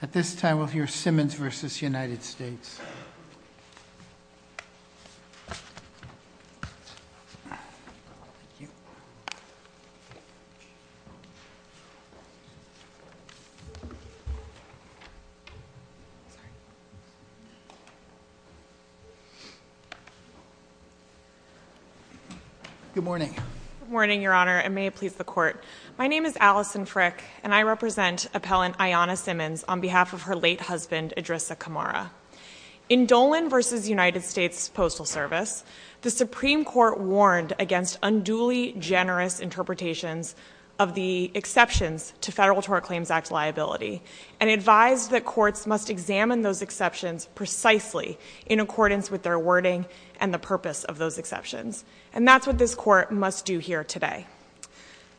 At this time, we'll hear Simmons v. The United States. Good morning, Your Honor, and may it please the court. My name is Allison Frick, and I represent appellant Ayanna Simmons on behalf of her late husband Idrissa Kamara. In Dolan v. The United States Postal Service, the Supreme Court warned against unduly generous interpretations of the exceptions to Federal Tort Claims Act liability, and advised that courts must examine those exceptions precisely in accordance with their wording and the purpose of those exceptions. And that's what this Court must do here today.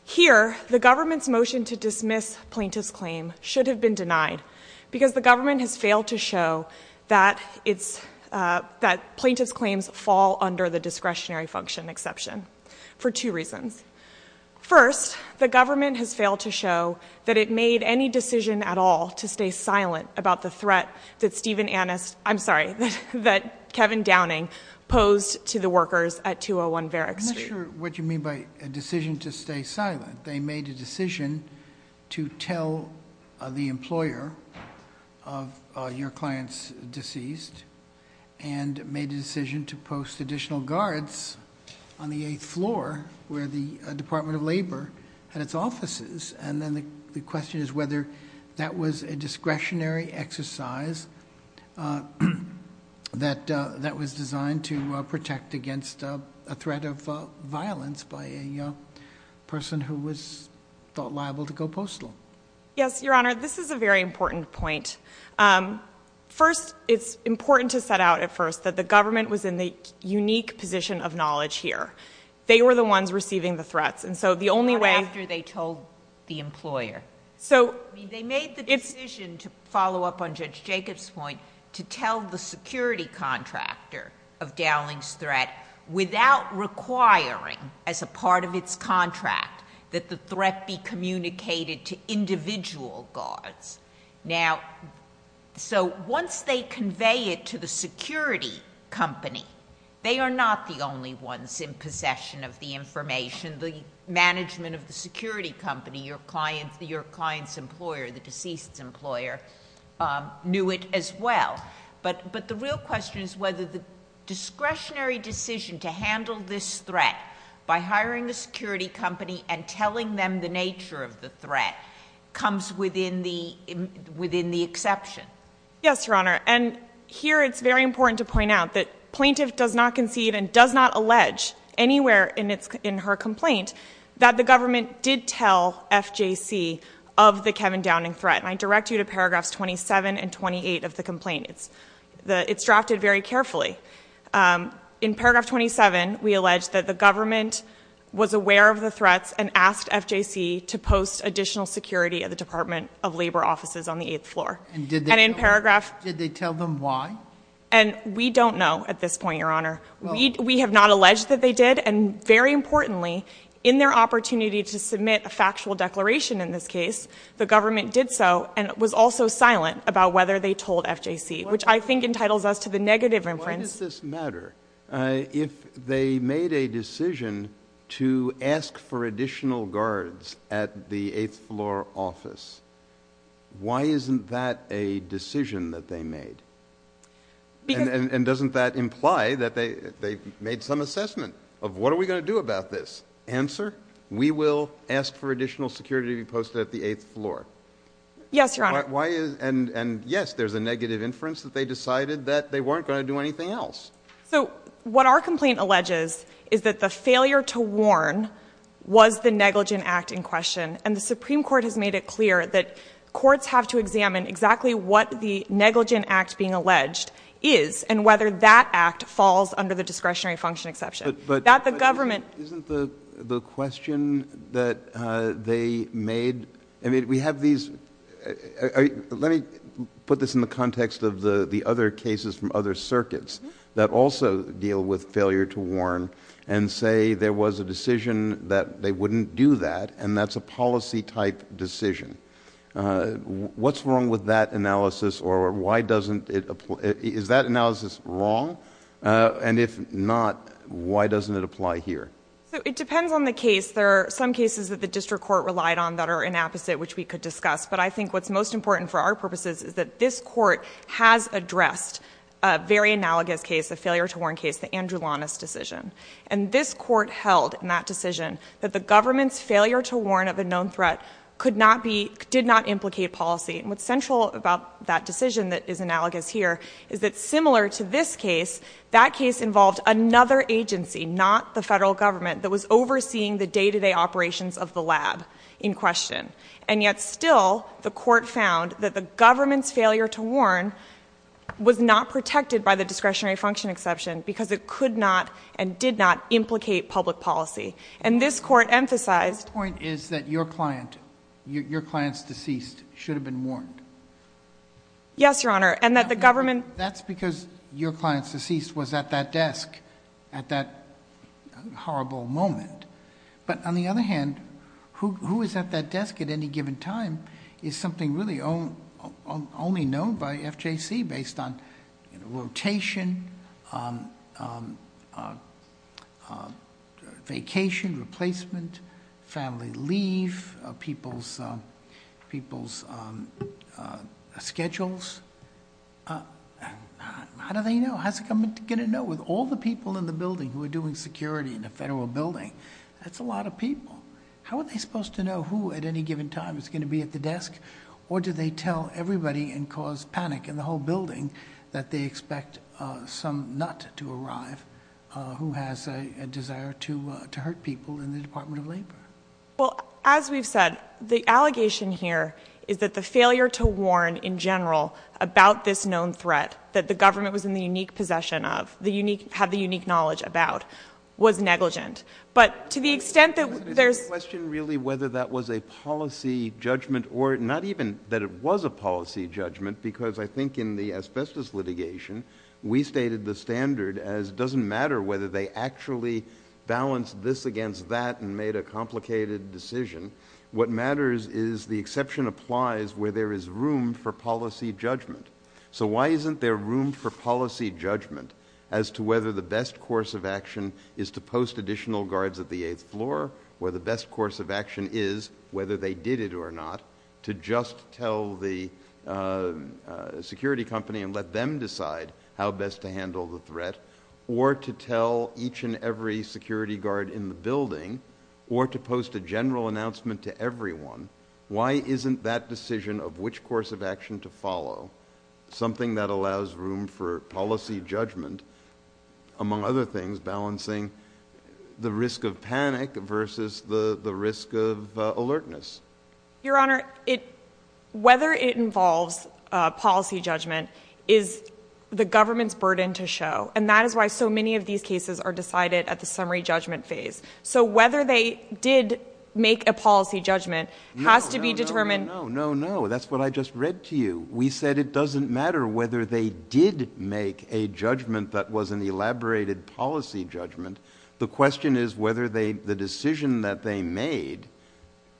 Here, the government's motion to dismiss plaintiff's claim should have been denied, because the government has failed to show that plaintiff's claims fall under the discretionary function exception, for two reasons. First, the government has failed to show that it made any decision at all to stay silent about the threat that Kevin Downing posed to the workers at 201 Verrick Street. I'm not sure what you mean by a decision to stay silent. They made a decision to tell the employer of your client's deceased, and made a decision to post additional guards on the eighth floor, where the Department of Labor had its offices. And then the question is whether that was a discretionary exercise that was designed to protect against a threat of violence by a person who was thought liable to go postal. Yes, Your Honor. This is a very important point. First, it's important to set out at first that the government was in the unique position of knowledge here. They were the ones receiving the threats. And so the only way— Not after they told the employer. So they made the decision to follow up on Judge Jacobs' point to tell the security contractor of Downing's threat without requiring, as a part of its contract, that the threat be communicated to individual guards. Now, so once they convey it to the security company, they are not the only ones in possession of the information. The management of the security company, your client's employer, the deceased's employer, knew it as well. But the real question is whether the discretionary decision to handle this threat by hiring a security company and telling them the nature of the threat comes within the exception. Yes, Your Honor. And here it's very important to point out that plaintiff does not concede and does not allege anywhere in her complaint that the government did tell FJC of the Kevin Downing threat. And I direct you to paragraphs 27 and 28 of the complaint. It's drafted very carefully. In paragraph 27, we allege that the government was aware of the threats and asked FJC to post additional security at the Department of Labor offices on the eighth floor. And in paragraph— Did they tell them why? And we don't know at this point, Your Honor. We have not alleged that they did. And very importantly, in their opportunity to submit a factual declaration in this case, the government did so and was also silent about whether they told FJC, which I think entitles us to the negative inference— Why does this matter? If they made a decision to ask for additional guards at the eighth floor office, why isn't that a decision that they made? And doesn't that imply that they made some assessment of what are we going to do about this? If we don't answer, we will ask for additional security to be posted at the eighth floor. Yes, Your Honor. Why is—and yes, there's a negative inference that they decided that they weren't going to do anything else. So what our complaint alleges is that the failure to warn was the negligent act in question. And the Supreme Court has made it clear that courts have to examine exactly what the negligent act being alleged is and whether that act falls under the discretionary function exception. But— Not the government. Isn't the question that they made—I mean, we have these—let me put this in the context of the other cases from other circuits that also deal with failure to warn and say there was a decision that they wouldn't do that and that's a policy-type decision. What's wrong with that analysis or why doesn't it—is that analysis wrong? And if not, why doesn't it apply here? It depends on the case. There are some cases that the district court relied on that are inapposite which we could discuss. But I think what's most important for our purposes is that this court has addressed a very analogous case, a failure to warn case, the Andrew Lawness decision. And this court held in that decision that the government's failure to warn of a known threat could not be—did not implicate policy. And what's central about that decision that is analogous here is that similar to this case, that case involved another agency, not the federal government, that was overseeing the day-to-day operations of the lab in question. And yet still, the court found that the government's failure to warn was not protected by the discretionary function exception because it could not and did not implicate public policy. And this court emphasized— Yes, Your Honor. And that the government— That's because your client's deceased was at that desk at that horrible moment. But on the other hand, who is at that desk at any given time is something really only known by FJC based on, you know, rotation, vacation, replacement, family leave, people's schedules. How do they know? How is it going to know with all the people in the building who are doing security in a federal building? That's a lot of people. How are they supposed to know who at any given time is going to be at the desk? Or do they tell everybody and cause panic in the whole building that they expect some nut to arrive who has a desire to hurt people in the Department of Labor? Well, as we've said, the allegation here is that the failure to warn in general about this known threat that the government was in the unique possession of, had the unique knowledge about, was negligent. But to the extent that there's— Not even that it was a policy judgment, because I think in the asbestos litigation, we stated the standard as doesn't matter whether they actually balanced this against that and made a complicated decision. What matters is the exception applies where there is room for policy judgment. So why isn't there room for policy judgment as to whether the best course of action is to post additional guards at the eighth floor, where the best course of action is, whether they did it or not, to just tell the security company and let them decide how best to handle the threat, or to tell each and every security guard in the building, or to post a general announcement to everyone? Why isn't that decision of which course of action to follow something that allows room for policy judgment, among other things, balancing the risk of panic versus the risk of alertness? Your Honor, whether it involves policy judgment is the government's burden to show. And that is why so many of these cases are decided at the summary judgment phase. So whether they did make a policy judgment has to be determined— No, no, no, no, no, no. That's what I just read to you. We said it doesn't matter whether they did make a judgment that was an elaborated policy judgment. The question is whether the decision that they made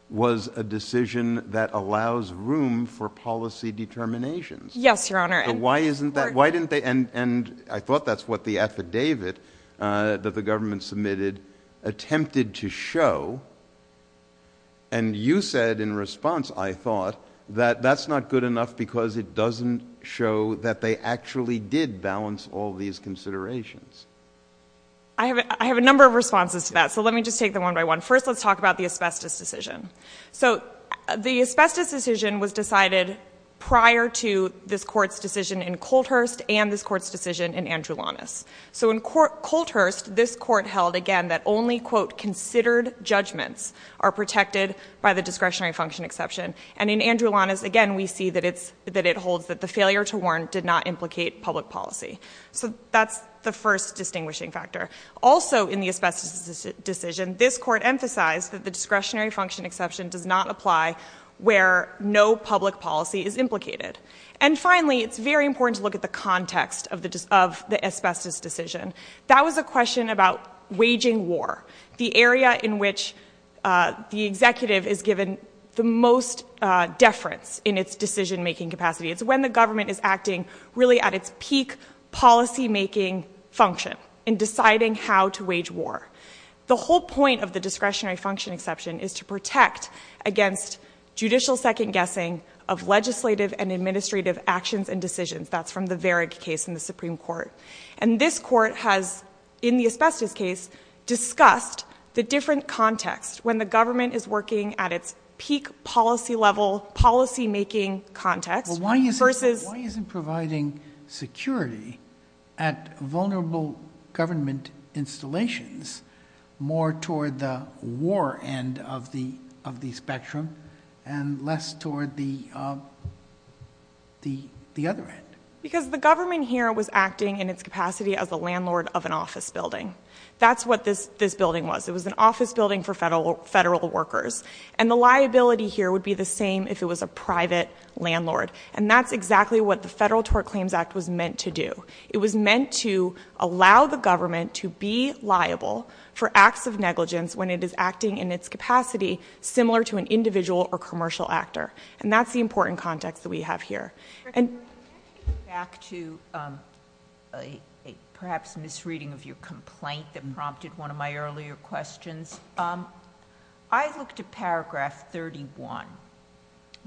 was a decision that allows room for policy determinations. Yes, Your Honor. Why isn't that—why didn't they—and I thought that's what the affidavit that the government submitted attempted to show. And you said in response, I thought, that that's not good enough because it doesn't show that they actually did balance all these considerations. I have a number of responses to that, so let me just take them one by one. First, let's talk about the asbestos decision. So the asbestos decision was decided prior to this Court's decision in Colthurst and this Court's decision in Andrulanus. So in Colthurst, this Court held, again, that only, quote, considered judgments are protected by the discretionary function exception. And in Andrulanus, again, we see that it's—that it holds that the failure to warn did not implicate public policy. So that's the first distinguishing factor. Also in the asbestos decision, this Court emphasized that the discretionary function exception does not apply where no public policy is implicated. And finally, it's very important to look at the context of the asbestos decision. That was a question about waging war, the area in which the executive is given the most deference in its decision-making capacity. It's when the government is acting, really, at its peak policy-making function in deciding how to wage war. The whole point of the discretionary function exception is to protect against judicial second-guessing of legislative and administrative actions and decisions. That's from the Varig case in the Supreme Court. And this Court has, in the asbestos case, discussed the different context, when the government is working at its peak policy-level, policy-making context— Why isn't providing security at vulnerable government installations more toward the war end of the spectrum and less toward the other end? Because the government here was acting in its capacity as the landlord of an office building. That's what this building was. It was an office building for federal workers. And the liability here would be the same if it was a private landlord. And that's exactly what the Federal Tort Claims Act was meant to do. It was meant to allow the government to be liable for acts of negligence when it is acting in its capacity similar to an individual or commercial actor. And that's the important context that we have here. And— Can I go back to perhaps a misreading of your complaint that prompted one of my earlier questions? I looked at paragraph 31,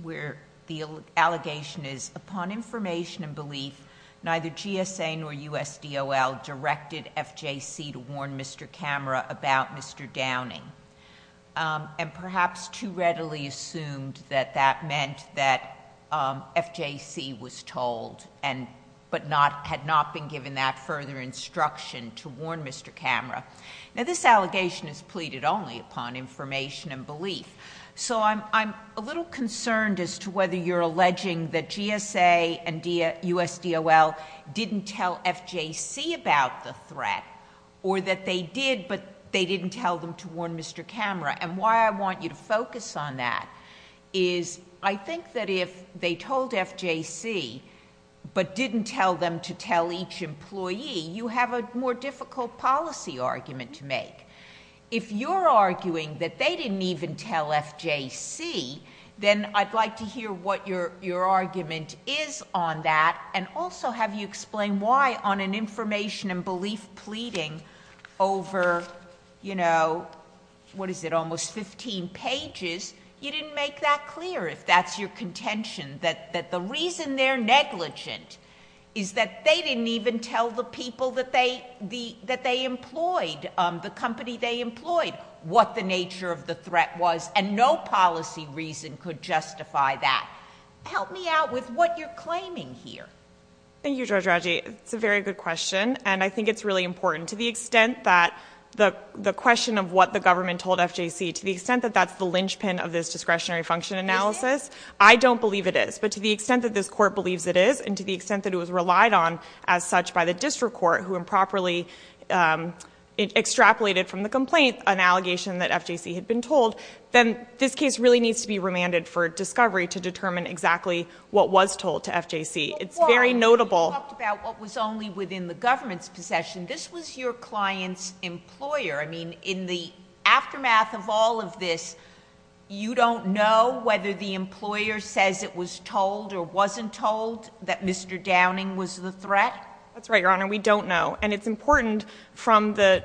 where the allegation is, upon information and belief, neither GSA nor USDOL directed FJC to warn Mr. Camera about Mr. Downing, and perhaps too readily assumed that that meant that FJC was told, but had not been given that further instruction to warn Mr. Camera. Now, this allegation is pleaded only upon information and belief. So I'm a little concerned as to whether you're alleging that GSA and USDOL didn't tell FJC about the threat, or that they did, but they didn't tell them to warn Mr. Camera. And why I want you to focus on that is, I think that if they told FJC, but didn't tell them to tell each employee, you have a more difficult policy argument to make. If you're arguing that they didn't even tell FJC, then I'd like to hear what your argument is on that, and also have you explain why, on an information and belief pleading over, you know, what is it, almost 15 pages, you didn't make that clear, if that's your contention, that the reason they're negligent is that they didn't even tell the people that they employed, the company they employed, what the nature of the threat was, and no policy reason could justify that. Help me out with what you're claiming here. Thank you, Judge Radji. It's a very good question, and I think it's really important. To the extent that the question of what the government told FJC, to the extent that that's the linchpin of this discretionary function analysis, I don't believe it is. But to the extent that this court believes it is, and to the extent that it was relied on as such by the district court, who improperly extrapolated from the complaint an allegation that FJC had been told, then this case really needs to be remanded for discovery to determine exactly what was told to FJC. It's very notable. But why? You talked about what was only within the government's possession. This was your client's employer. I mean, in the aftermath of all of this, you don't know whether the employer says it was told or wasn't told that Mr. Downing was the threat? That's right, Your Honor. We don't know. And it's important from the...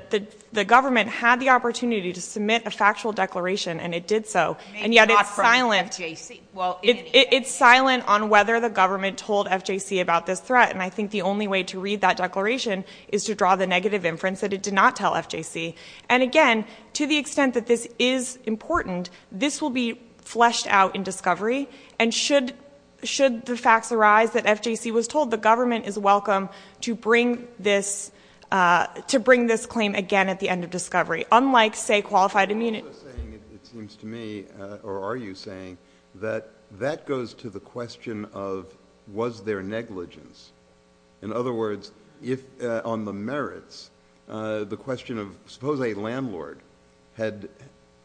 The government had the opportunity to submit a factual declaration, and it did so. And yet it's silent. Maybe not from FJC. Well, in any case. It's silent on whether the government told FJC about this threat, and I think the only way to read that declaration is to draw the negative inference that it did not tell FJC. And again, to the extent that this is important, this will be fleshed out in discovery. And should the facts arise that FJC was told, the government is welcome to bring this claim again at the end of discovery, unlike, say, qualified immunity. I'm also saying, it seems to me, or are you saying, that that goes to the question of was there negligence? In other words, if on the merits, the question of... Suppose a landlord had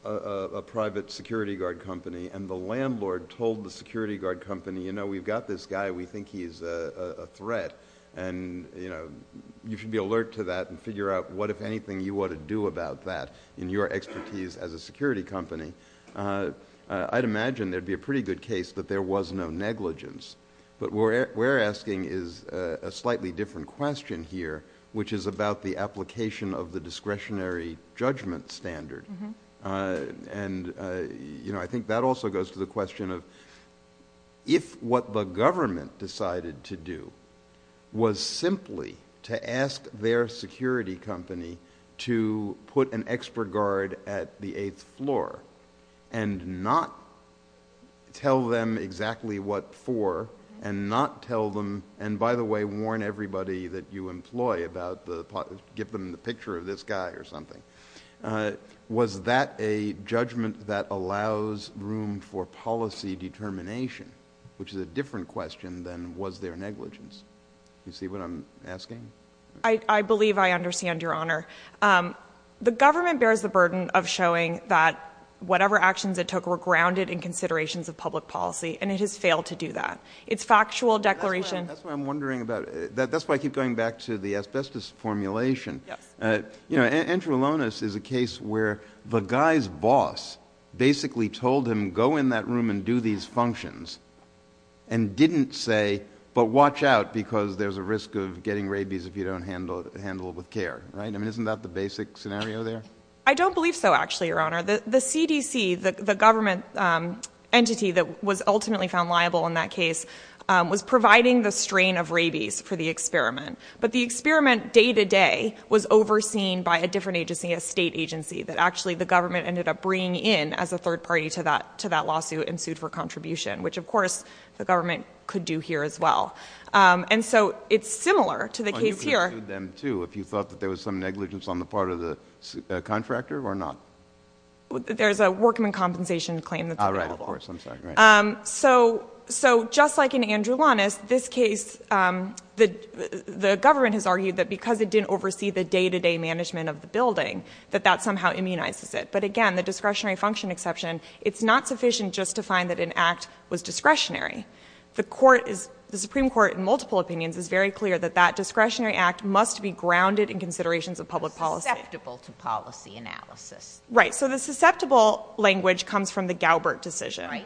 a private security guard company, and the landlord told the security guard company, you know, we've got this guy, we think he's a threat, and you should be alert to that and figure out what, if anything, you ought to do about that in your expertise as a security company. I'd imagine there'd be a pretty good case that there was no negligence. But what we're asking is a slightly different question here, which is about the application of the discretionary judgment standard. And I think that also goes to the question of if what the government decided to do was simply to ask their security company to put an expert guard at the eighth floor and not tell them exactly what for, and not tell them... And by the way, warn everybody that you employ about the... Give them the picture of this guy or something. Was that a judgment that allows room for policy determination, which is a different question than was there negligence? You see what I'm asking? I believe I understand, Your Honor. The government bears the burden of showing that whatever actions it took were grounded in considerations of public policy, and it has failed to do that. It's factual declaration... That's what I'm wondering about. That's why I keep going back to the asbestos formulation. Yes. You know, Andrew Alonis is a case where the guy's boss basically told him, go in that room and do these functions, and didn't say, but watch out because there's a risk of getting rabies if you don't handle it with care. I mean, isn't that the basic scenario there? I don't believe so, actually, Your Honor. The CDC, the government entity that was ultimately found liable in that case, was providing the strain of rabies for the experiment. But the experiment day to day was overseen by a different agency, a state agency that actually the government ended up bringing in as a third party to that lawsuit and sued for contribution, which of course the government could do here as well. And so, it's similar to the case here... If you thought that there was some negligence on the part of the contractor or not? There's a workman compensation claim that's available. Oh, right. Of course. I'm sorry. Right. So, just like in Andrew Alonis, this case, the government has argued that because it didn't oversee the day to day management of the building, that that somehow immunizes it. But again, the discretionary function exception, it's not sufficient just to find that an act was discretionary. The Supreme Court, in multiple opinions, is very clear that that discretionary act must be grounded in considerations of public policy. Susceptible to policy analysis. Right. So, the susceptible language comes from the Galbert decision.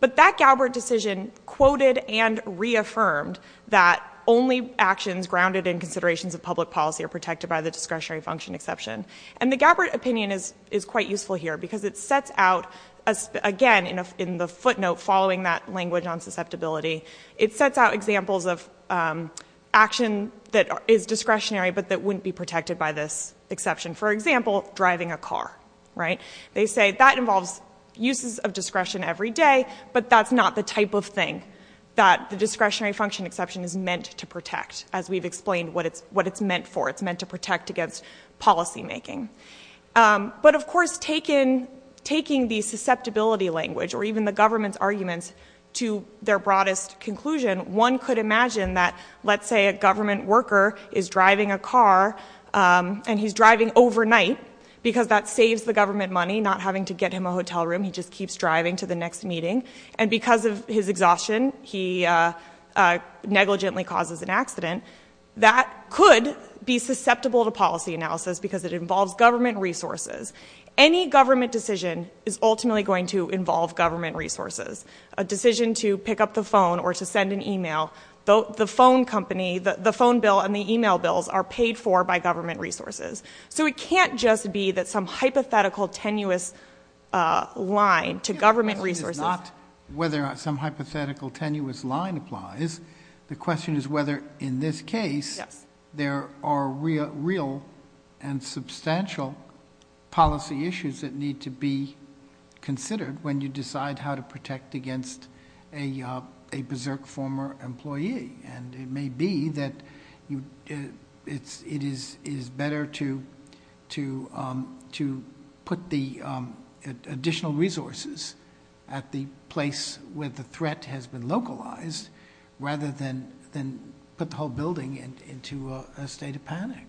But that Galbert decision quoted and reaffirmed that only actions grounded in considerations of public policy are protected by the discretionary function exception. And the Galbert opinion is quite useful here because it sets out, again, in the footnote following that language on susceptibility, it sets out examples of action that is discretionary but that wouldn't be protected by this exception. For example, driving a car. Right. They say that involves uses of discretion every day, but that's not the type of thing that the discretionary function exception is meant to protect. As we've explained what it's meant for. It's meant to protect against policy making. But, of course, taking the susceptibility language or even the government's arguments to their broadest conclusion, one could imagine that, let's say, a government worker is driving a car and he's driving overnight because that saves the government money, not having to get him a hotel room. He just keeps driving to the next meeting. And because of his exhaustion, he negligently causes an accident. And that could be susceptible to policy analysis because it involves government resources. Any government decision is ultimately going to involve government resources. A decision to pick up the phone or to send an e-mail, the phone company, the phone bill and the e-mail bills are paid for by government resources. So it can't just be that some hypothetical tenuous line to government resources. The question is not whether some hypothetical tenuous line applies. The question is whether, in this case, there are real and substantial policy issues that need to be considered when you decide how to protect against a berserk former employee. And it may be that it is better to put the additional resources at the place where the rather than put the whole building into a state of panic.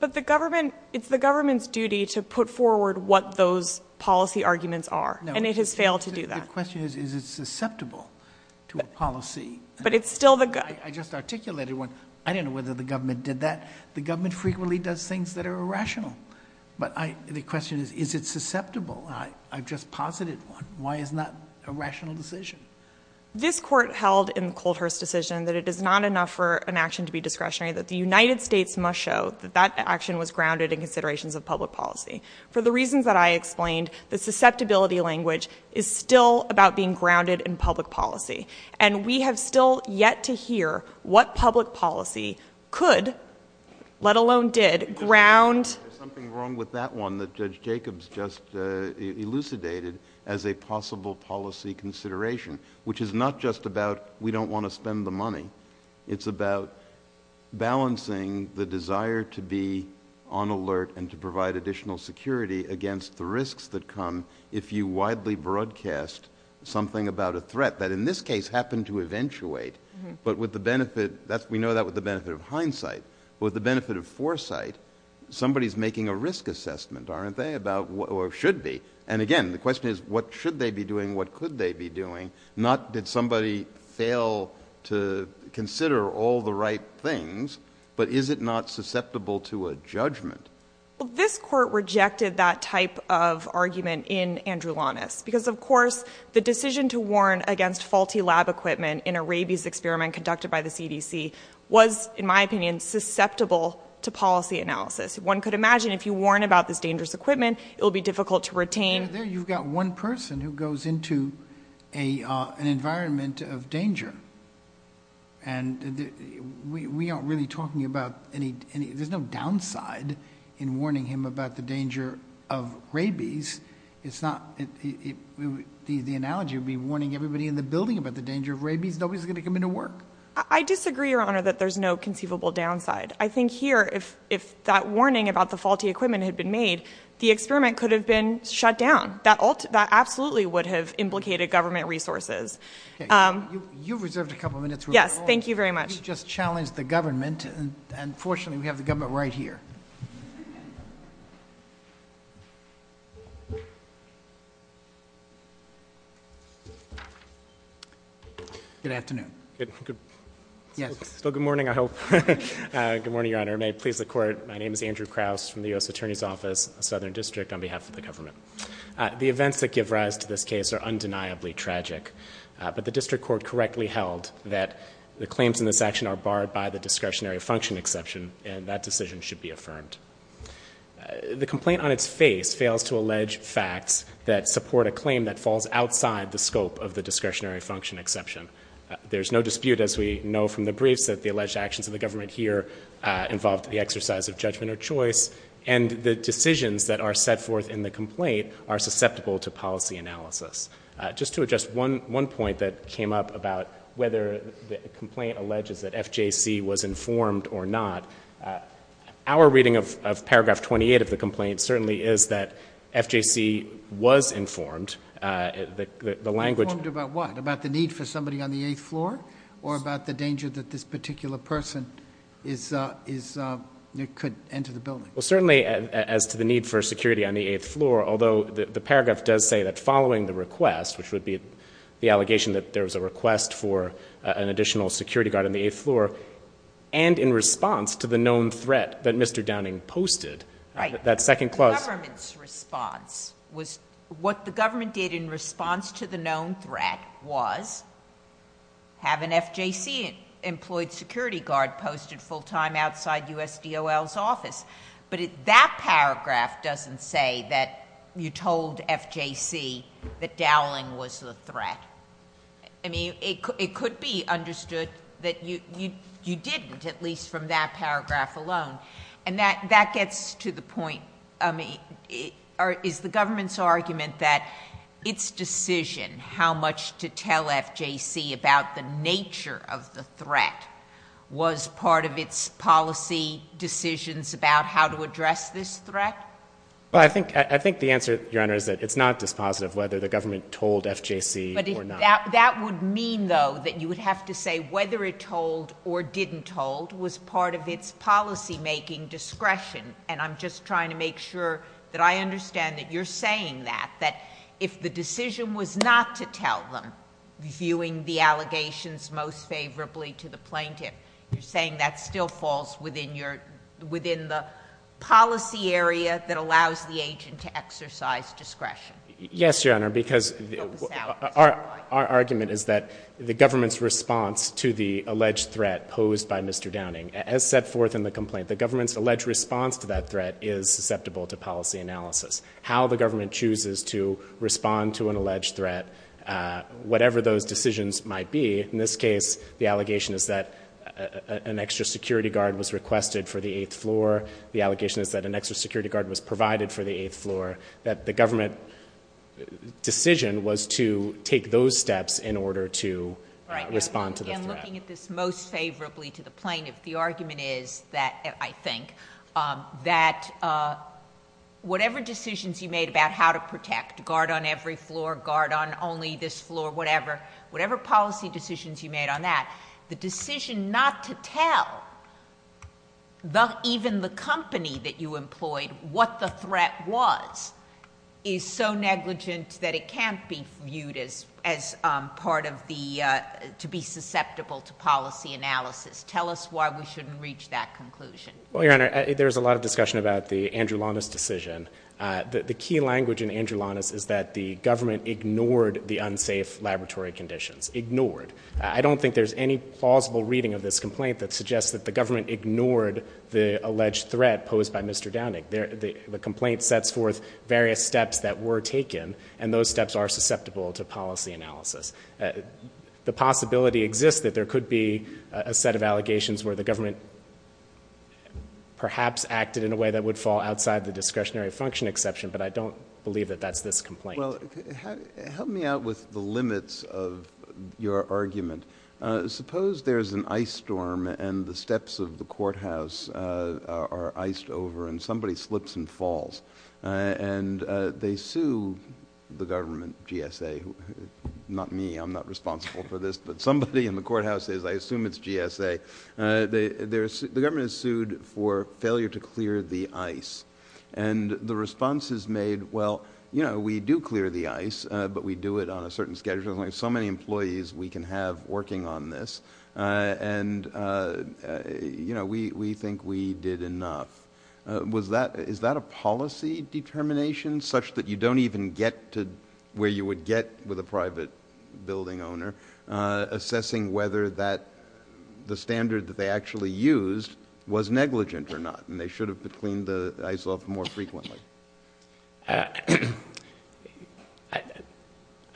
But the government, it's the government's duty to put forward what those policy arguments are. And it has failed to do that. The question is, is it susceptible to a policy? But it's still the government. I just articulated one. I don't know whether the government did that. The government frequently does things that are irrational. But the question is, is it susceptible? I've just posited one. Why is that a rational decision? This court held in the Coldhurst decision that it is not enough for an action to be discretionary, that the United States must show that that action was grounded in considerations of public policy. For the reasons that I explained, the susceptibility language is still about being grounded in public policy. And we have still yet to hear what public policy could, let alone did, ground There's something wrong with that one that Judge Jacobs just elucidated as a possible policy consideration, which is not just about we don't want to spend the money. It's about balancing the desire to be on alert and to provide additional security against the risks that come if you widely broadcast something about a threat that in this case happened to eventuate. But with the benefit, that's, we know that with the benefit of hindsight, with the benefit of foresight, somebody is making a risk assessment, aren't they, about what should be. And again, the question is, what should they be doing? What could they be doing? Not did somebody fail to consider all the right things, but is it not susceptible to a judgment? Well, this court rejected that type of argument in Andrew Lonis, because, of course, the decision to warn against faulty lab equipment in a rabies experiment conducted by the CDC was, in my opinion, susceptible to policy analysis. One could imagine if you warn about this dangerous equipment, it will be difficult to retain. There you've got one person who goes into an environment of danger. And we aren't really talking about any, there's no downside in warning him about the danger of rabies. It's not, the analogy would be warning everybody in the building about the danger of rabies. Nobody's going to come into work. I disagree, Your Honor, that there's no conceivable downside. I think here, if that warning about the faulty equipment had been made, the experiment could have been shut down. That absolutely would have implicated government resources. You reserved a couple minutes. Yes, thank you very much. You just challenged the government, and fortunately, we have the government right here. Good afternoon. Good morning, I hope. Good morning, Your Honor. May it please the Court, my name is Andrew Kraus from the U.S. Attorney's Office, Southern District, on behalf of the government. The events that give rise to this case are undeniably tragic, but the district court correctly held that the claims in this action are barred by the discretionary function exception, and that decision should be affirmed. The complaint on its face fails to allege facts that support a claim that falls outside the scope of the discretionary function exception. There's no dispute, as we know from the briefs, that the alleged actions of the government here involved the exercise of judgment or choice, and the decisions that are set forth in the complaint are susceptible to policy analysis. Just to address one point that came up about whether the complaint alleges that FJC was informed or not, our reading of paragraph 28 of the complaint certainly is that FJC was informed. The language— Informed about what? About the need for somebody on the eighth floor, or about the danger that this particular person could enter the building? Well, certainly as to the need for security on the eighth floor, although the paragraph does say that following the request, which would be the allegation that there was a request for an additional security guard on the eighth floor, and in response to the known threat Right. What the government did in response to the known threat was have an FJC-employed security guard posted full-time outside USDOL's office. But that paragraph doesn't say that you told FJC that doweling was the threat. It could be understood that you didn't, at least from that paragraph alone. And that gets to the point, is the government's argument that its decision how much to tell FJC about the nature of the threat was part of its policy decisions about how to address this threat? Well, I think the answer, Your Honor, is that it's not dispositive whether the government told FJC or not. That would mean, though, that you would have to say whether it told or didn't told was part of its policymaking discretion. And I'm just trying to make sure that I understand that you're saying that, that if the decision was not to tell them, viewing the allegations most favorably to the plaintiff, you're saying that still falls within your — within the policy area that allows the agent to exercise discretion? Yes, Your Honor, because our argument is that the government's response to the alleged threat posed by Mr. Downing, as set forth in the complaint, the government's alleged response to that threat is susceptible to policy analysis. How the government chooses to respond to an alleged threat, whatever those decisions might be, in this case, the allegation is that an extra security guard was requested for the eighth floor. The allegation is that an extra security guard was provided for the eighth floor. That the government decision was to take those steps in order to respond to the threat. I'm looking at this most favorably to the plaintiff. The argument is that, I think, that whatever decisions you made about how to protect, guard on every floor, guard on only this floor, whatever, whatever policy decisions you made on that, the decision not to tell even the company that you employed what the threat was is so negligent that it can't be viewed as part of the — to be susceptible to policy analysis. Tell us why we shouldn't reach that conclusion. Well, Your Honor, there's a lot of discussion about the Andrew Lawness decision. The key language in Andrew Lawness is that the government ignored the unsafe laboratory conditions. Ignored. I don't think there's any plausible reading of this complaint that suggests that the government ignored the alleged threat posed by Mr. Downing. The complaint sets forth various steps that were taken, and those steps are susceptible to policy analysis. The possibility exists that there could be a set of allegations where the government perhaps acted in a way that would fall outside the discretionary function exception, but I don't believe that that's this complaint. Well, help me out with the limits of your argument. Suppose there's an ice storm and the steps of the courthouse are iced over and somebody slips and falls, and they sue the government, GSA — not me, I'm not responsible for this, but somebody in the courthouse is, I assume it's GSA — the government is sued for failure to clear the ice. And the response is made, well, you know, we do clear the ice, but we do it on a certain schedule. There's only so many employees we can have working on this, and, you know, we think we did enough. Was that — is that a policy determination, such that you don't even get to where you would get with a private building owner, assessing whether that — the standard that they actually used was negligent or not, and they should have cleaned the ice off more frequently?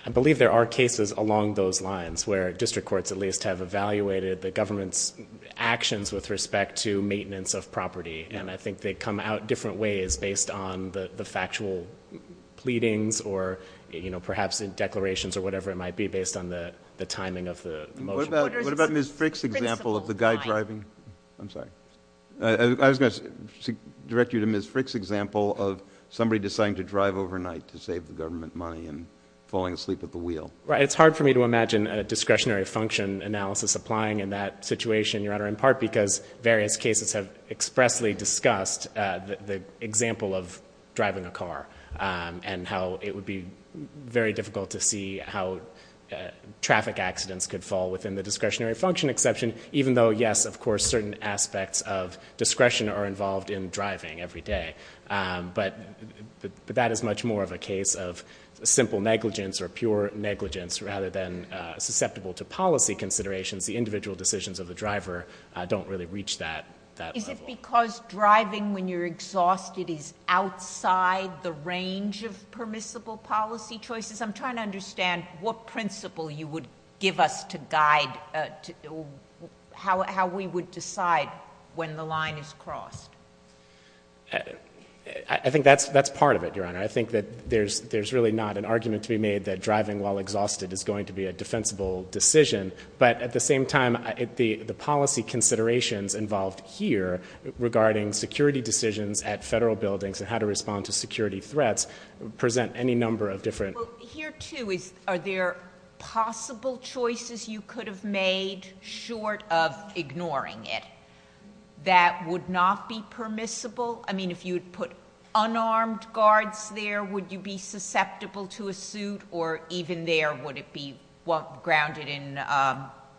I believe there are cases along those lines, where district courts at least have evaluated the government's actions with respect to maintenance of property, and I think they come out different ways based on the factual pleadings or, you know, perhaps in declarations or whatever it might be, based on the timing of the motion. What about Ms. Frick's example of the guy driving — I'm sorry — I was going to direct you to Ms. Frick's example of somebody deciding to drive overnight to save the government money and falling asleep at the wheel? Right. It's hard for me to imagine a discretionary function analysis applying in that situation, Your Honor, in part because various cases have expressly discussed the example of driving a car and how it would be very difficult to see how traffic accidents could fall within the discretionary function exception, even though, yes, of course, certain aspects of the law are discussed every day, but that is much more of a case of simple negligence or pure negligence rather than susceptible to policy considerations. The individual decisions of the driver don't really reach that level. Is it because driving when you're exhausted is outside the range of permissible policy choices? I'm trying to understand what principle you would give us to guide how we would decide when the line is crossed. I think that's part of it, Your Honor. I think that there's really not an argument to be made that driving while exhausted is going to be a defensible decision, but at the same time, the policy considerations involved here regarding security decisions at federal buildings and how to respond to security threats present any number of different — Well, here, too, are there possible choices you could have made short of ignoring it? That would not be permissible? I mean, if you had put unarmed guards there, would you be susceptible to a suit, or even there would it be grounded in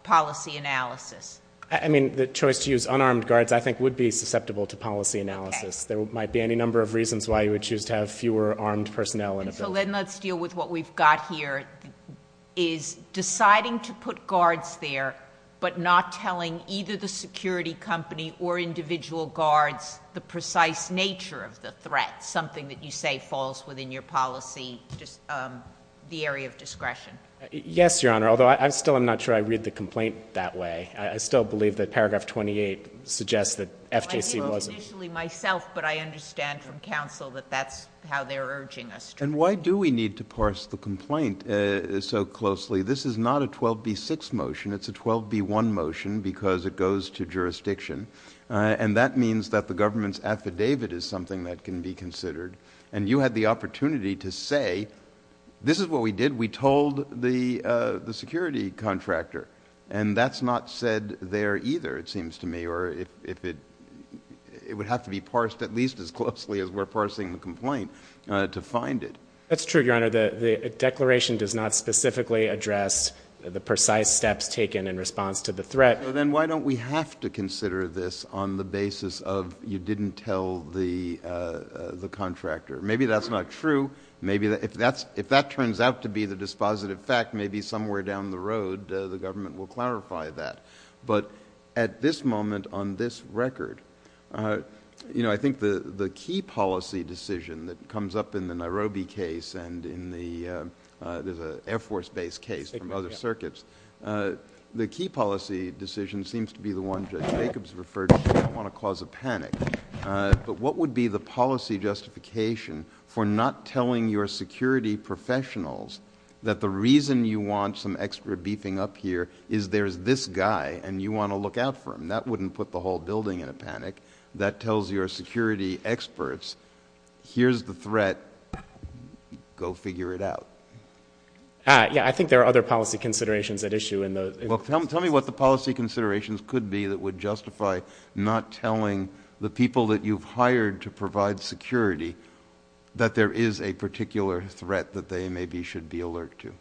policy analysis? I mean, the choice to use unarmed guards, I think, would be susceptible to policy analysis. There might be any number of reasons why you would choose to have fewer armed personnel in a building. So then let's deal with what we've got here, is deciding to put guards there but not telling either the security company or individual guards the precise nature of the threat, something that you say falls within your policy, just the area of discretion. Yes, Your Honor, although I still am not sure I read the complaint that way. I still believe that paragraph 28 suggests that FJC wasn't — Well, I wrote it initially myself, but I understand from counsel that that's how they're urging us to — And why do we need to parse the complaint so closely? This is not a 12b6 motion. It's a 12b1 motion because it goes to jurisdiction, and that means that the government's affidavit is something that can be considered. And you had the opportunity to say, this is what we did. We told the security contractor. And that's not said there either, it seems to me, or if it — it would have to be parsed at least as closely as we're parsing the complaint to find it. That's true, Your Honor. The declaration does not specifically address the precise steps taken in response to the threat. Then why don't we have to consider this on the basis of you didn't tell the contractor? Maybe that's not true. Maybe if that turns out to be the dispositive fact, maybe somewhere down the road the government will clarify that. But at this moment, on this record, you know, I think the key policy decision that comes up in the Nairobi case and in the — there's an Air Force-based case from other circuits. The key policy decision seems to be the one Judge Jacobs referred to. You don't want to cause a panic. But what would be the policy justification for not telling your security professionals that the reason you want some extra beefing up here is there's this guy and you want to look out for him? That wouldn't put the whole building in a panic. That tells your security experts, here's the threat. Go figure it out. Yeah. I think there are other policy considerations at issue in the — Well, tell me what the policy considerations could be that would justify not telling the people that you've hired to provide security that there is a particular threat that they maybe should be alert to.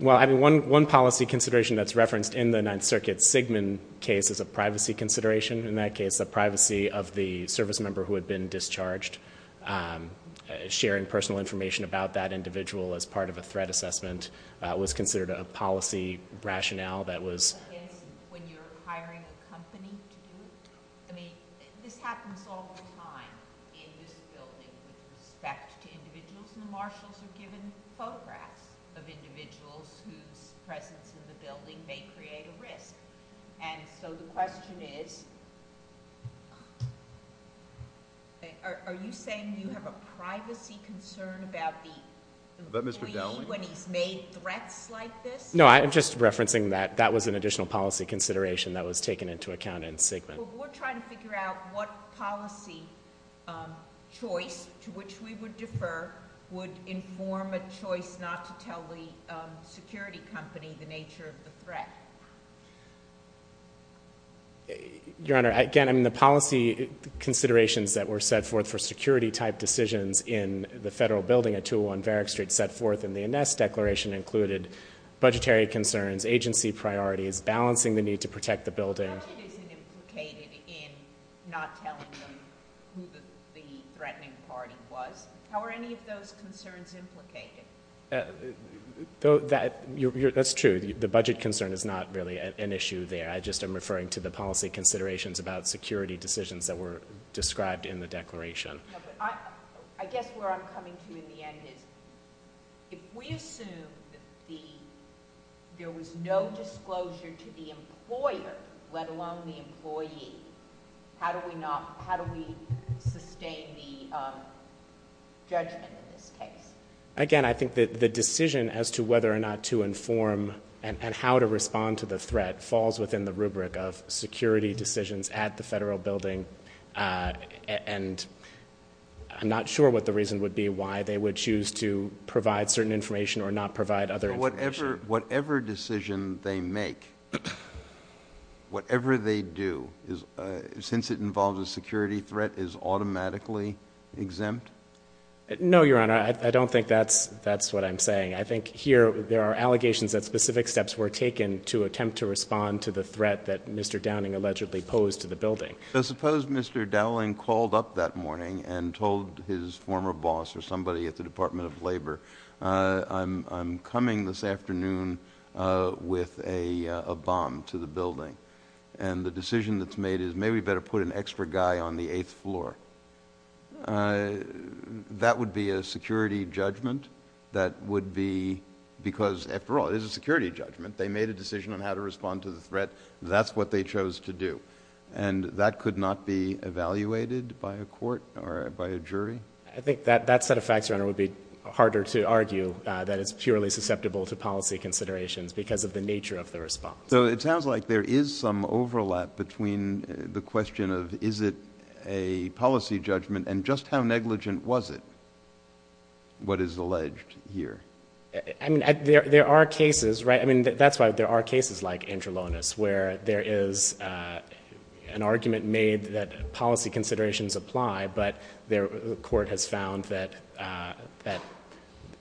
Well, I mean, one policy consideration that's referenced in the Ninth Circuit Sigmund case is a privacy consideration. In that case, the privacy of the service member who had been discharged, sharing personal information about that individual as part of a threat assessment was considered a policy rationale that was — Against when you're hiring a company to do it? I mean, this happens all the time in this building with respect to individuals. And the marshals are given photographs of individuals whose presence in the building may create a risk. And so, the question is, are you saying you have a privacy concern about the — But, Mr. Dowling —— when he's made threats like this? No, I'm just referencing that that was an additional policy consideration that was taken into account in Sigmund. Well, we're trying to figure out what policy choice to which we would defer would inform a choice not to tell the security company the nature of the threat. Your Honor, again, I mean, the policy considerations that were set forth for security-type decisions in the Federal Building at 201 Varick Street set forth in the Ines Declaration included budgetary concerns, agency priorities, balancing the need to protect the building — The budget isn't implicated in not telling them who the threatening party was. How are any of those concerns implicated? That's true. The budget concern is not really an issue there. I just am referring to the policy considerations about security decisions that were described in the Declaration. No, but I guess where I'm coming to in the end is, if we assume that there was no disclosure to the employer, let alone the employee, how do we sustain the judgment in this case? Again, I think that the decision as to whether or not to inform and how to respond to the threat falls within the rubric of security decisions at the Federal Building, and I'm not sure what the reason would be why they would choose to provide certain information or not provide other information. Whatever decision they make, whatever they do, since it involves a security threat, is automatically exempt? No, Your Honor. I don't think that's what I'm saying. I think here there are allegations that specific steps were taken to attempt to respond to the threat that Mr. Downing allegedly posed to the building. Suppose Mr. Downing called up that morning and told his former boss or somebody at the Department of Labor, I'm coming this afternoon with a bomb to the building, and the decision that's made is maybe we better put an extra guy on the eighth floor. That would be a security judgment that would be because, after all, it is a security judgment. They made a decision on how to respond to the threat. That's what they chose to do, and that could not be evaluated by a court or by a jury? I think that set of facts, Your Honor, would be harder to argue that it's purely susceptible to policy considerations because of the nature of the response. It sounds like there is some overlap between the question of is it a policy judgment and just how negligent was it, what is alleged here? There are cases, that's why there are cases like Angelonis, where there is an argument made that policy considerations apply, but the court has found that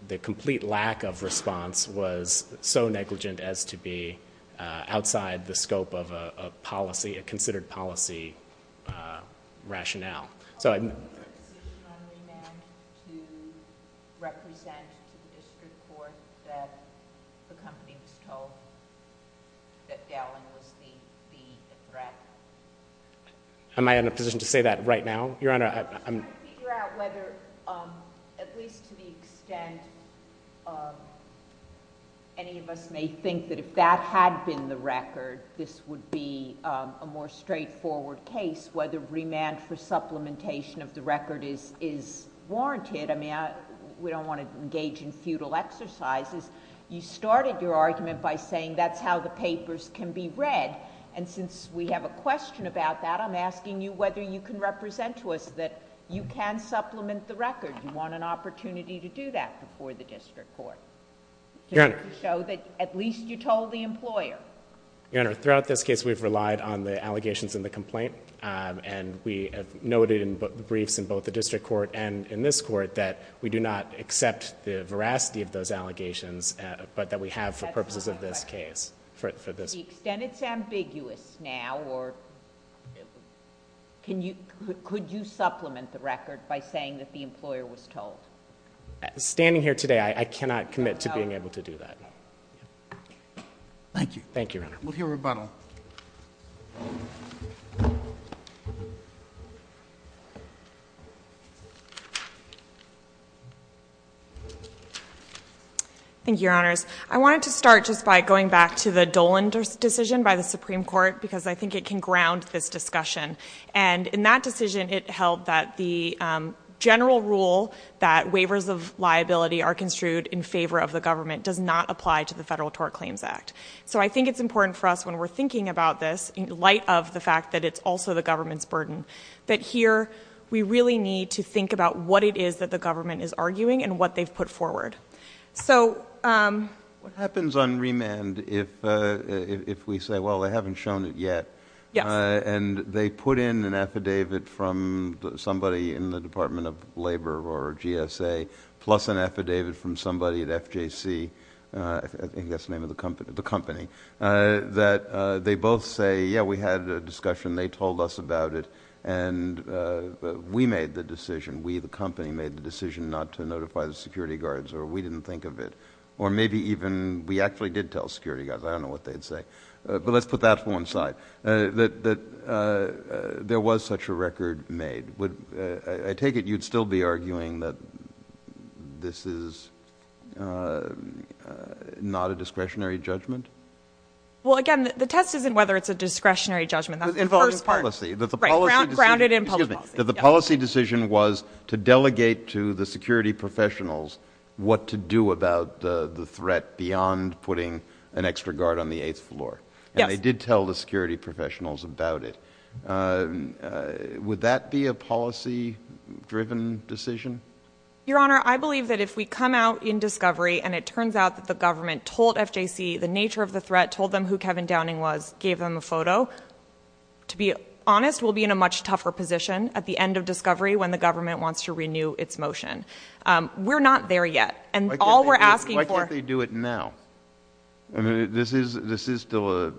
the complete lack of response was so negligent as to be outside the scope of a policy, a considered policy rationale. Are you in a position on remand to represent to the district court that the company was told that Dowling was the threat? Am I in a position to say that right now, Your Honor? I'm just trying to figure out whether, at least to the extent any of us may think that if that had been the record, this would be a more straightforward case, whether remand for supplementation of the record is warranted. We don't want to engage in futile exercises. You started your argument by saying that's how the papers can be read, and since we have no question about that, I'm asking you whether you can represent to us that you can supplement the record. You want an opportunity to do that before the district court to show that at least you told the employer. Your Honor, throughout this case, we've relied on the allegations in the complaint, and we have noted in briefs in both the district court and in this court that we do not accept the veracity of those allegations, but that we have for purposes of this case, for this... Could you supplement the record by saying that the employer was told? Standing here today, I cannot commit to being able to do that. Thank you. Thank you, Your Honor. We'll hear rebuttal. Thank you, Your Honors. I wanted to start just by going back to the Dolan decision by the Supreme Court because I think it can ground this discussion, and in that decision, it held that the general rule that waivers of liability are construed in favor of the government does not apply to the Federal Tort Claims Act. So I think it's important for us when we're thinking about this, in light of the fact that it's also the government's burden, that here we really need to think about what it is that the government is arguing and what they've put forward. So... What happens on remand if we say, well, they haven't shown it yet, and they put in an affidavit from somebody in the Department of Labor or GSA, plus an affidavit from somebody at FJC, I think that's the name of the company, that they both say, yeah, we had a discussion, they told us about it, and we made the decision, we, the company, made the decision not to remand. We didn't think of it. Or maybe even, we actually did tell security guys, I don't know what they'd say, but let's put that to one side, that there was such a record made. Would, I take it you'd still be arguing that this is not a discretionary judgment? Well, again, the test isn't whether it's a discretionary judgment, that's the first part. It was involved in policy. That the policy decision... Right, grounded in public policy. That the policy decision was to delegate to the security professionals what to do about the threat beyond putting an extra guard on the eighth floor. Yes. And they did tell the security professionals about it. Would that be a policy-driven decision? Your Honor, I believe that if we come out in discovery, and it turns out that the government told FJC the nature of the threat, told them who Kevin Downing was, gave them a photo, to be honest, we'll be in a much tougher position at the end of discovery when the government wants to renew its motion. We're not there yet. And all we're asking for... Why can't they do it now? This is still a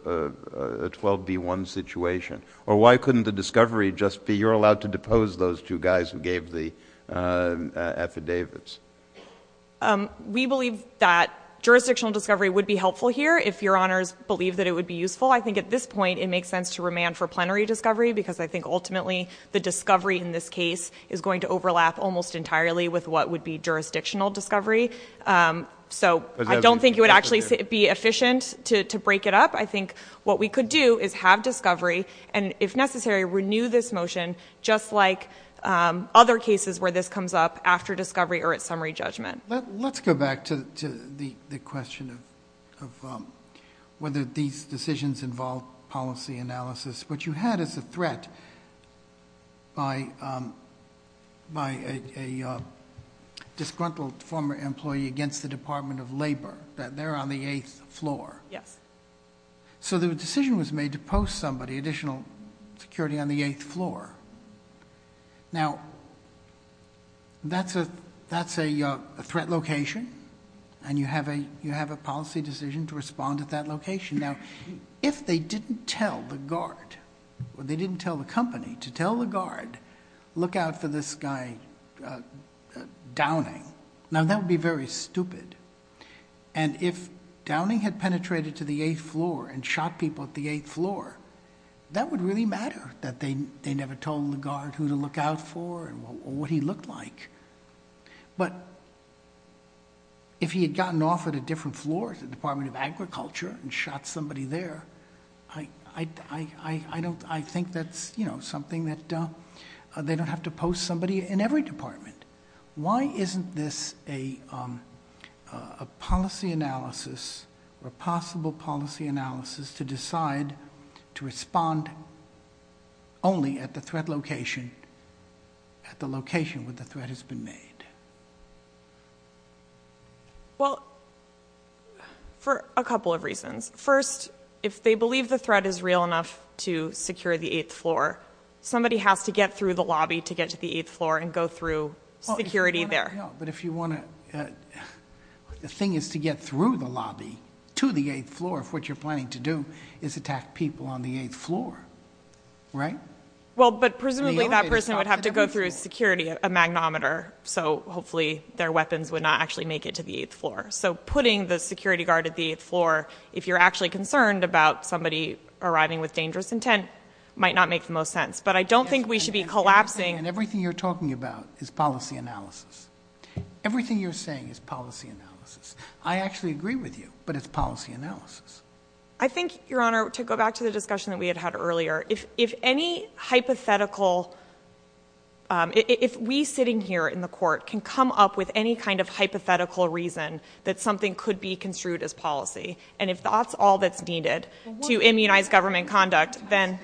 12B1 situation. Or why couldn't the discovery just be, you're allowed to depose those two guys who gave the affidavits? We believe that jurisdictional discovery would be helpful here if Your Honors believe that it would be useful. I think at this point it makes sense to remand for plenary discovery because I think ultimately the discovery in this case is going to overlap almost entirely with what would be jurisdictional discovery. So I don't think it would actually be efficient to break it up. I think what we could do is have discovery and, if necessary, renew this motion just like other cases where this comes up after discovery or at summary judgment. Let's go back to the question of whether these decisions involve policy analysis. What you had is a threat by a disgruntled former employee against the Department of Labor. They're on the eighth floor. So the decision was made to post somebody, additional security, on the eighth floor. Now, that's a threat location and you have a policy decision to respond at that location. Now, if they didn't tell the guard, or they didn't tell the company to tell the guard, look out for this guy Downing, now that would be very stupid. And if Downing had penetrated to the eighth floor and shot people at the eighth floor, that would really matter, that they never told the guard who to look out for or what he looked like. But if he had gotten off at a different floor, the Department of Agriculture, and shot somebody there, I think that's something that they don't have to post somebody in every department. Why isn't this a policy analysis, or possible policy analysis, to decide to respond only at the threat location, at the location where the threat has been made? Well, for a couple of reasons. First, if they believe the threat is real enough to secure the eighth floor, somebody has to get through the lobby to get to the eighth floor and go through security there. But if you want to, the thing is to get through the lobby to the eighth floor, if what you're planning to do is attack people on the eighth floor, right? Well, but presumably that person would have to go through security, a magnometer, so hopefully their weapons would not actually make it to the eighth floor. So putting the security guard at the eighth floor, if you're actually concerned about somebody arriving with dangerous intent, might not make the most sense. But I don't think we should be collapsing- And everything you're talking about is policy analysis. Everything you're saying is policy analysis. I actually agree with you, but it's policy analysis. I think, Your Honor, to go back to the discussion that we had had earlier, if any hypothetical, if we sitting here in the court can come up with any kind of hypothetical reason that something could be construed as policy, and if that's all that's needed to immunize government conduct, then-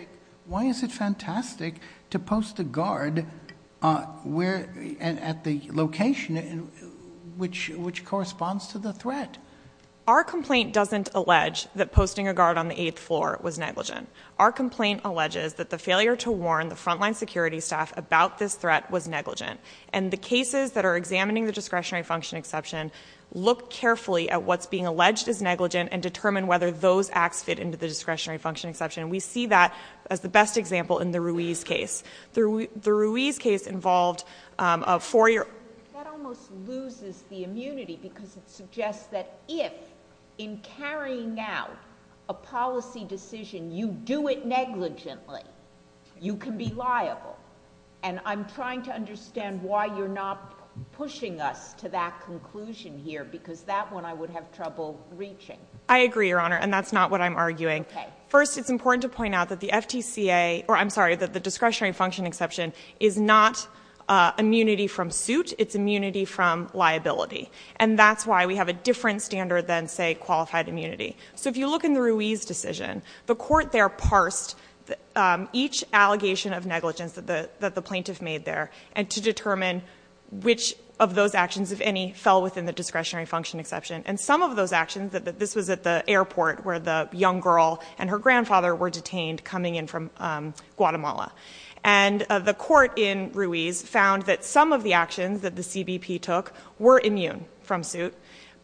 Why is it fantastic to post a guard at the location which corresponds to the threat? Our complaint doesn't allege that posting a guard on the eighth floor was negligent. Our complaint alleges that the failure to warn the frontline security staff about this threat was negligent. And the cases that are examining the discretionary function exception look carefully at what's being alleged as negligent and determine whether those acts fit into the discretionary function exception. And we see that as the best example in the Ruiz case. The Ruiz case involved a four-year- That almost loses the immunity because it suggests that if, in carrying out a policy decision, you do it negligently, you can be liable. And I'm trying to understand why you're not pushing us to that conclusion here, because that one I would have trouble reaching. I agree, Your Honor, and that's not what I'm arguing. Okay. First, it's important to point out that the discretionary function exception is not immunity from suit. It's immunity from liability. And that's why we have a different standard than, say, qualified immunity. So if you look in the Ruiz decision, the court there parsed each allegation of negligence that the plaintiff made there and to determine which of those actions, if any, fell within the discretionary function exception. And some of those actions, this was at the airport where the young girl and her grandfather were detained coming in from Guatemala. And the court in Ruiz found that some of the actions that the CBP took were immune from suit,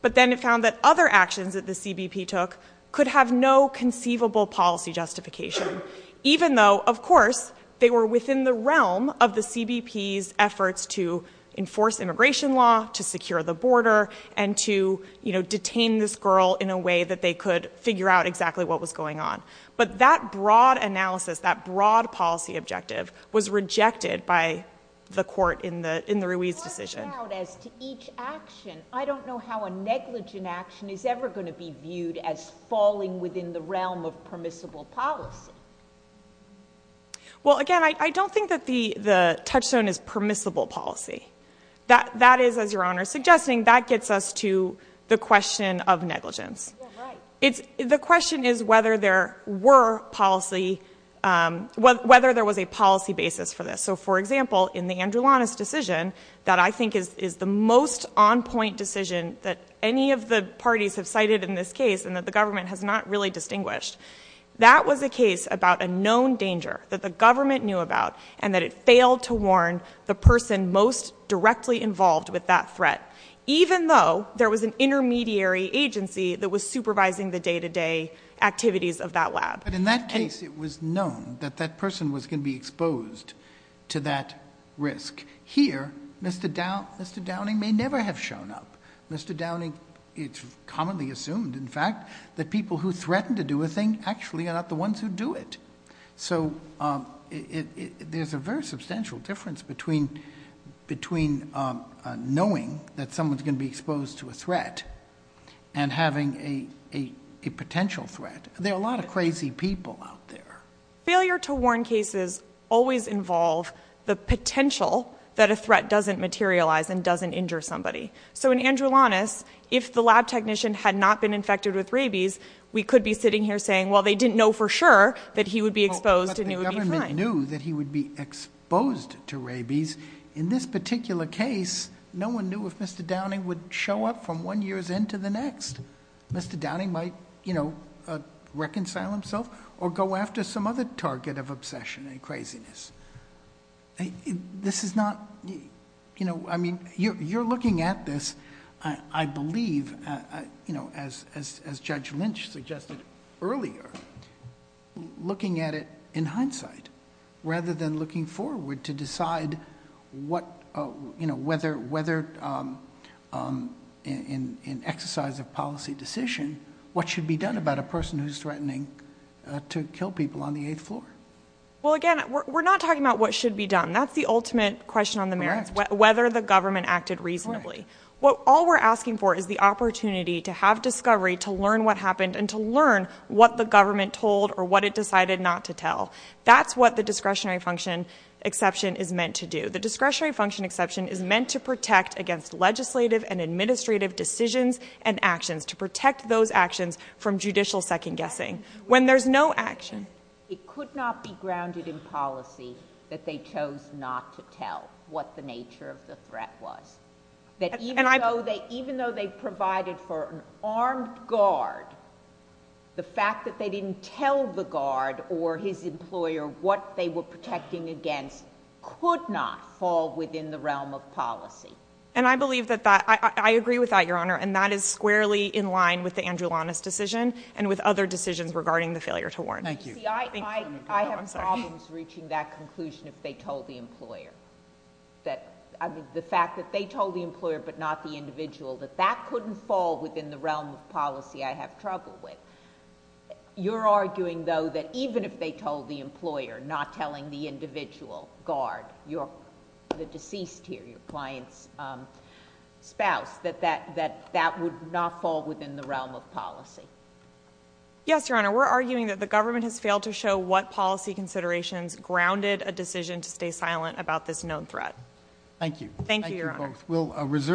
but then it found that other actions that the CBP took could have no conceivable policy justification, even though, of course, they were within the realm of the CBP's efforts to enforce immigration law, to secure the border, and to, you know, detain this girl in a way that they could figure out exactly what was going on. But that broad analysis, that broad policy objective, was rejected by the court in the Ruiz decision. But what about as to each action? I don't know how a negligent action is ever going to be viewed as falling within the realm of permissible policy. Well, again, I don't think that the touchstone is permissible policy. That is, as Your Honor is suggesting, that gets us to the question of negligence. The question is whether there were policy, whether there was a policy basis for this. So, for example, in the Andrew Lanis decision, that I think is the most on-point decision that any of the parties have cited in this case and that the government has not really known about, and that it failed to warn the person most directly involved with that threat, even though there was an intermediary agency that was supervising the day-to-day activities of that lab. But in that case, it was known that that person was going to be exposed to that risk. Here, Mr. Downing may never have shown up. Mr. Downing, it's commonly assumed, in fact, that people who threaten to do a thing actually are not the ones who do it. So there's a very substantial difference between knowing that someone's going to be exposed to a threat and having a potential threat. There are a lot of crazy people out there. Failure to warn cases always involve the potential that a threat doesn't materialize and doesn't injure somebody. So in Andrew Lanis, if the lab technician had not been infected with rabies, we could be sitting here saying, well, they didn't know for sure that he would be exposed and he would be fine. But the government knew that he would be exposed to rabies. In this particular case, no one knew if Mr. Downing would show up from one year's end to the next. Mr. Downing might reconcile himself or go after some other target of obsession and craziness. This is not... I mean, you're looking at this, I believe, as Judge Lynch suggested earlier, looking at it in hindsight, rather than looking forward to decide whether, in exercise of policy decision, what should be done about a person who's threatening to kill people on the eighth floor. Well, again, we're not talking about what should be done. That's the ultimate question on the merits. Whether the government acted reasonably. All we're asking for is the opportunity to have discovery, to learn what happened, and to learn what the government told or what it decided not to tell. That's what the discretionary function exception is meant to do. The discretionary function exception is meant to protect against legislative and administrative decisions and actions, to protect those actions from judicial second-guessing, when there's no action. It could not be grounded in policy that they chose not to tell what the nature of the threat was. Even though they provided for an armed guard, the fact that they didn't tell the guard or his employer what they were protecting against could not fall within the realm of policy. And I believe that that... I agree with that, Your Honor, and that is squarely in line with the Andrew Lawness decision and with other decisions regarding the failure to warn. See, I have problems reaching that conclusion if they told the employer. The fact that they told the employer but not the individual, that that couldn't fall within the realm of policy I have trouble with. You're arguing, though, that even if they told the employer, not telling the individual guard, the deceased here, your client's spouse, that that would not fall within the realm of policy. Yes, Your Honor. We're arguing that the government has failed to show what policy considerations grounded a decision to stay silent about this known threat. Thank you. Thank you, Your Honor. Thank you both.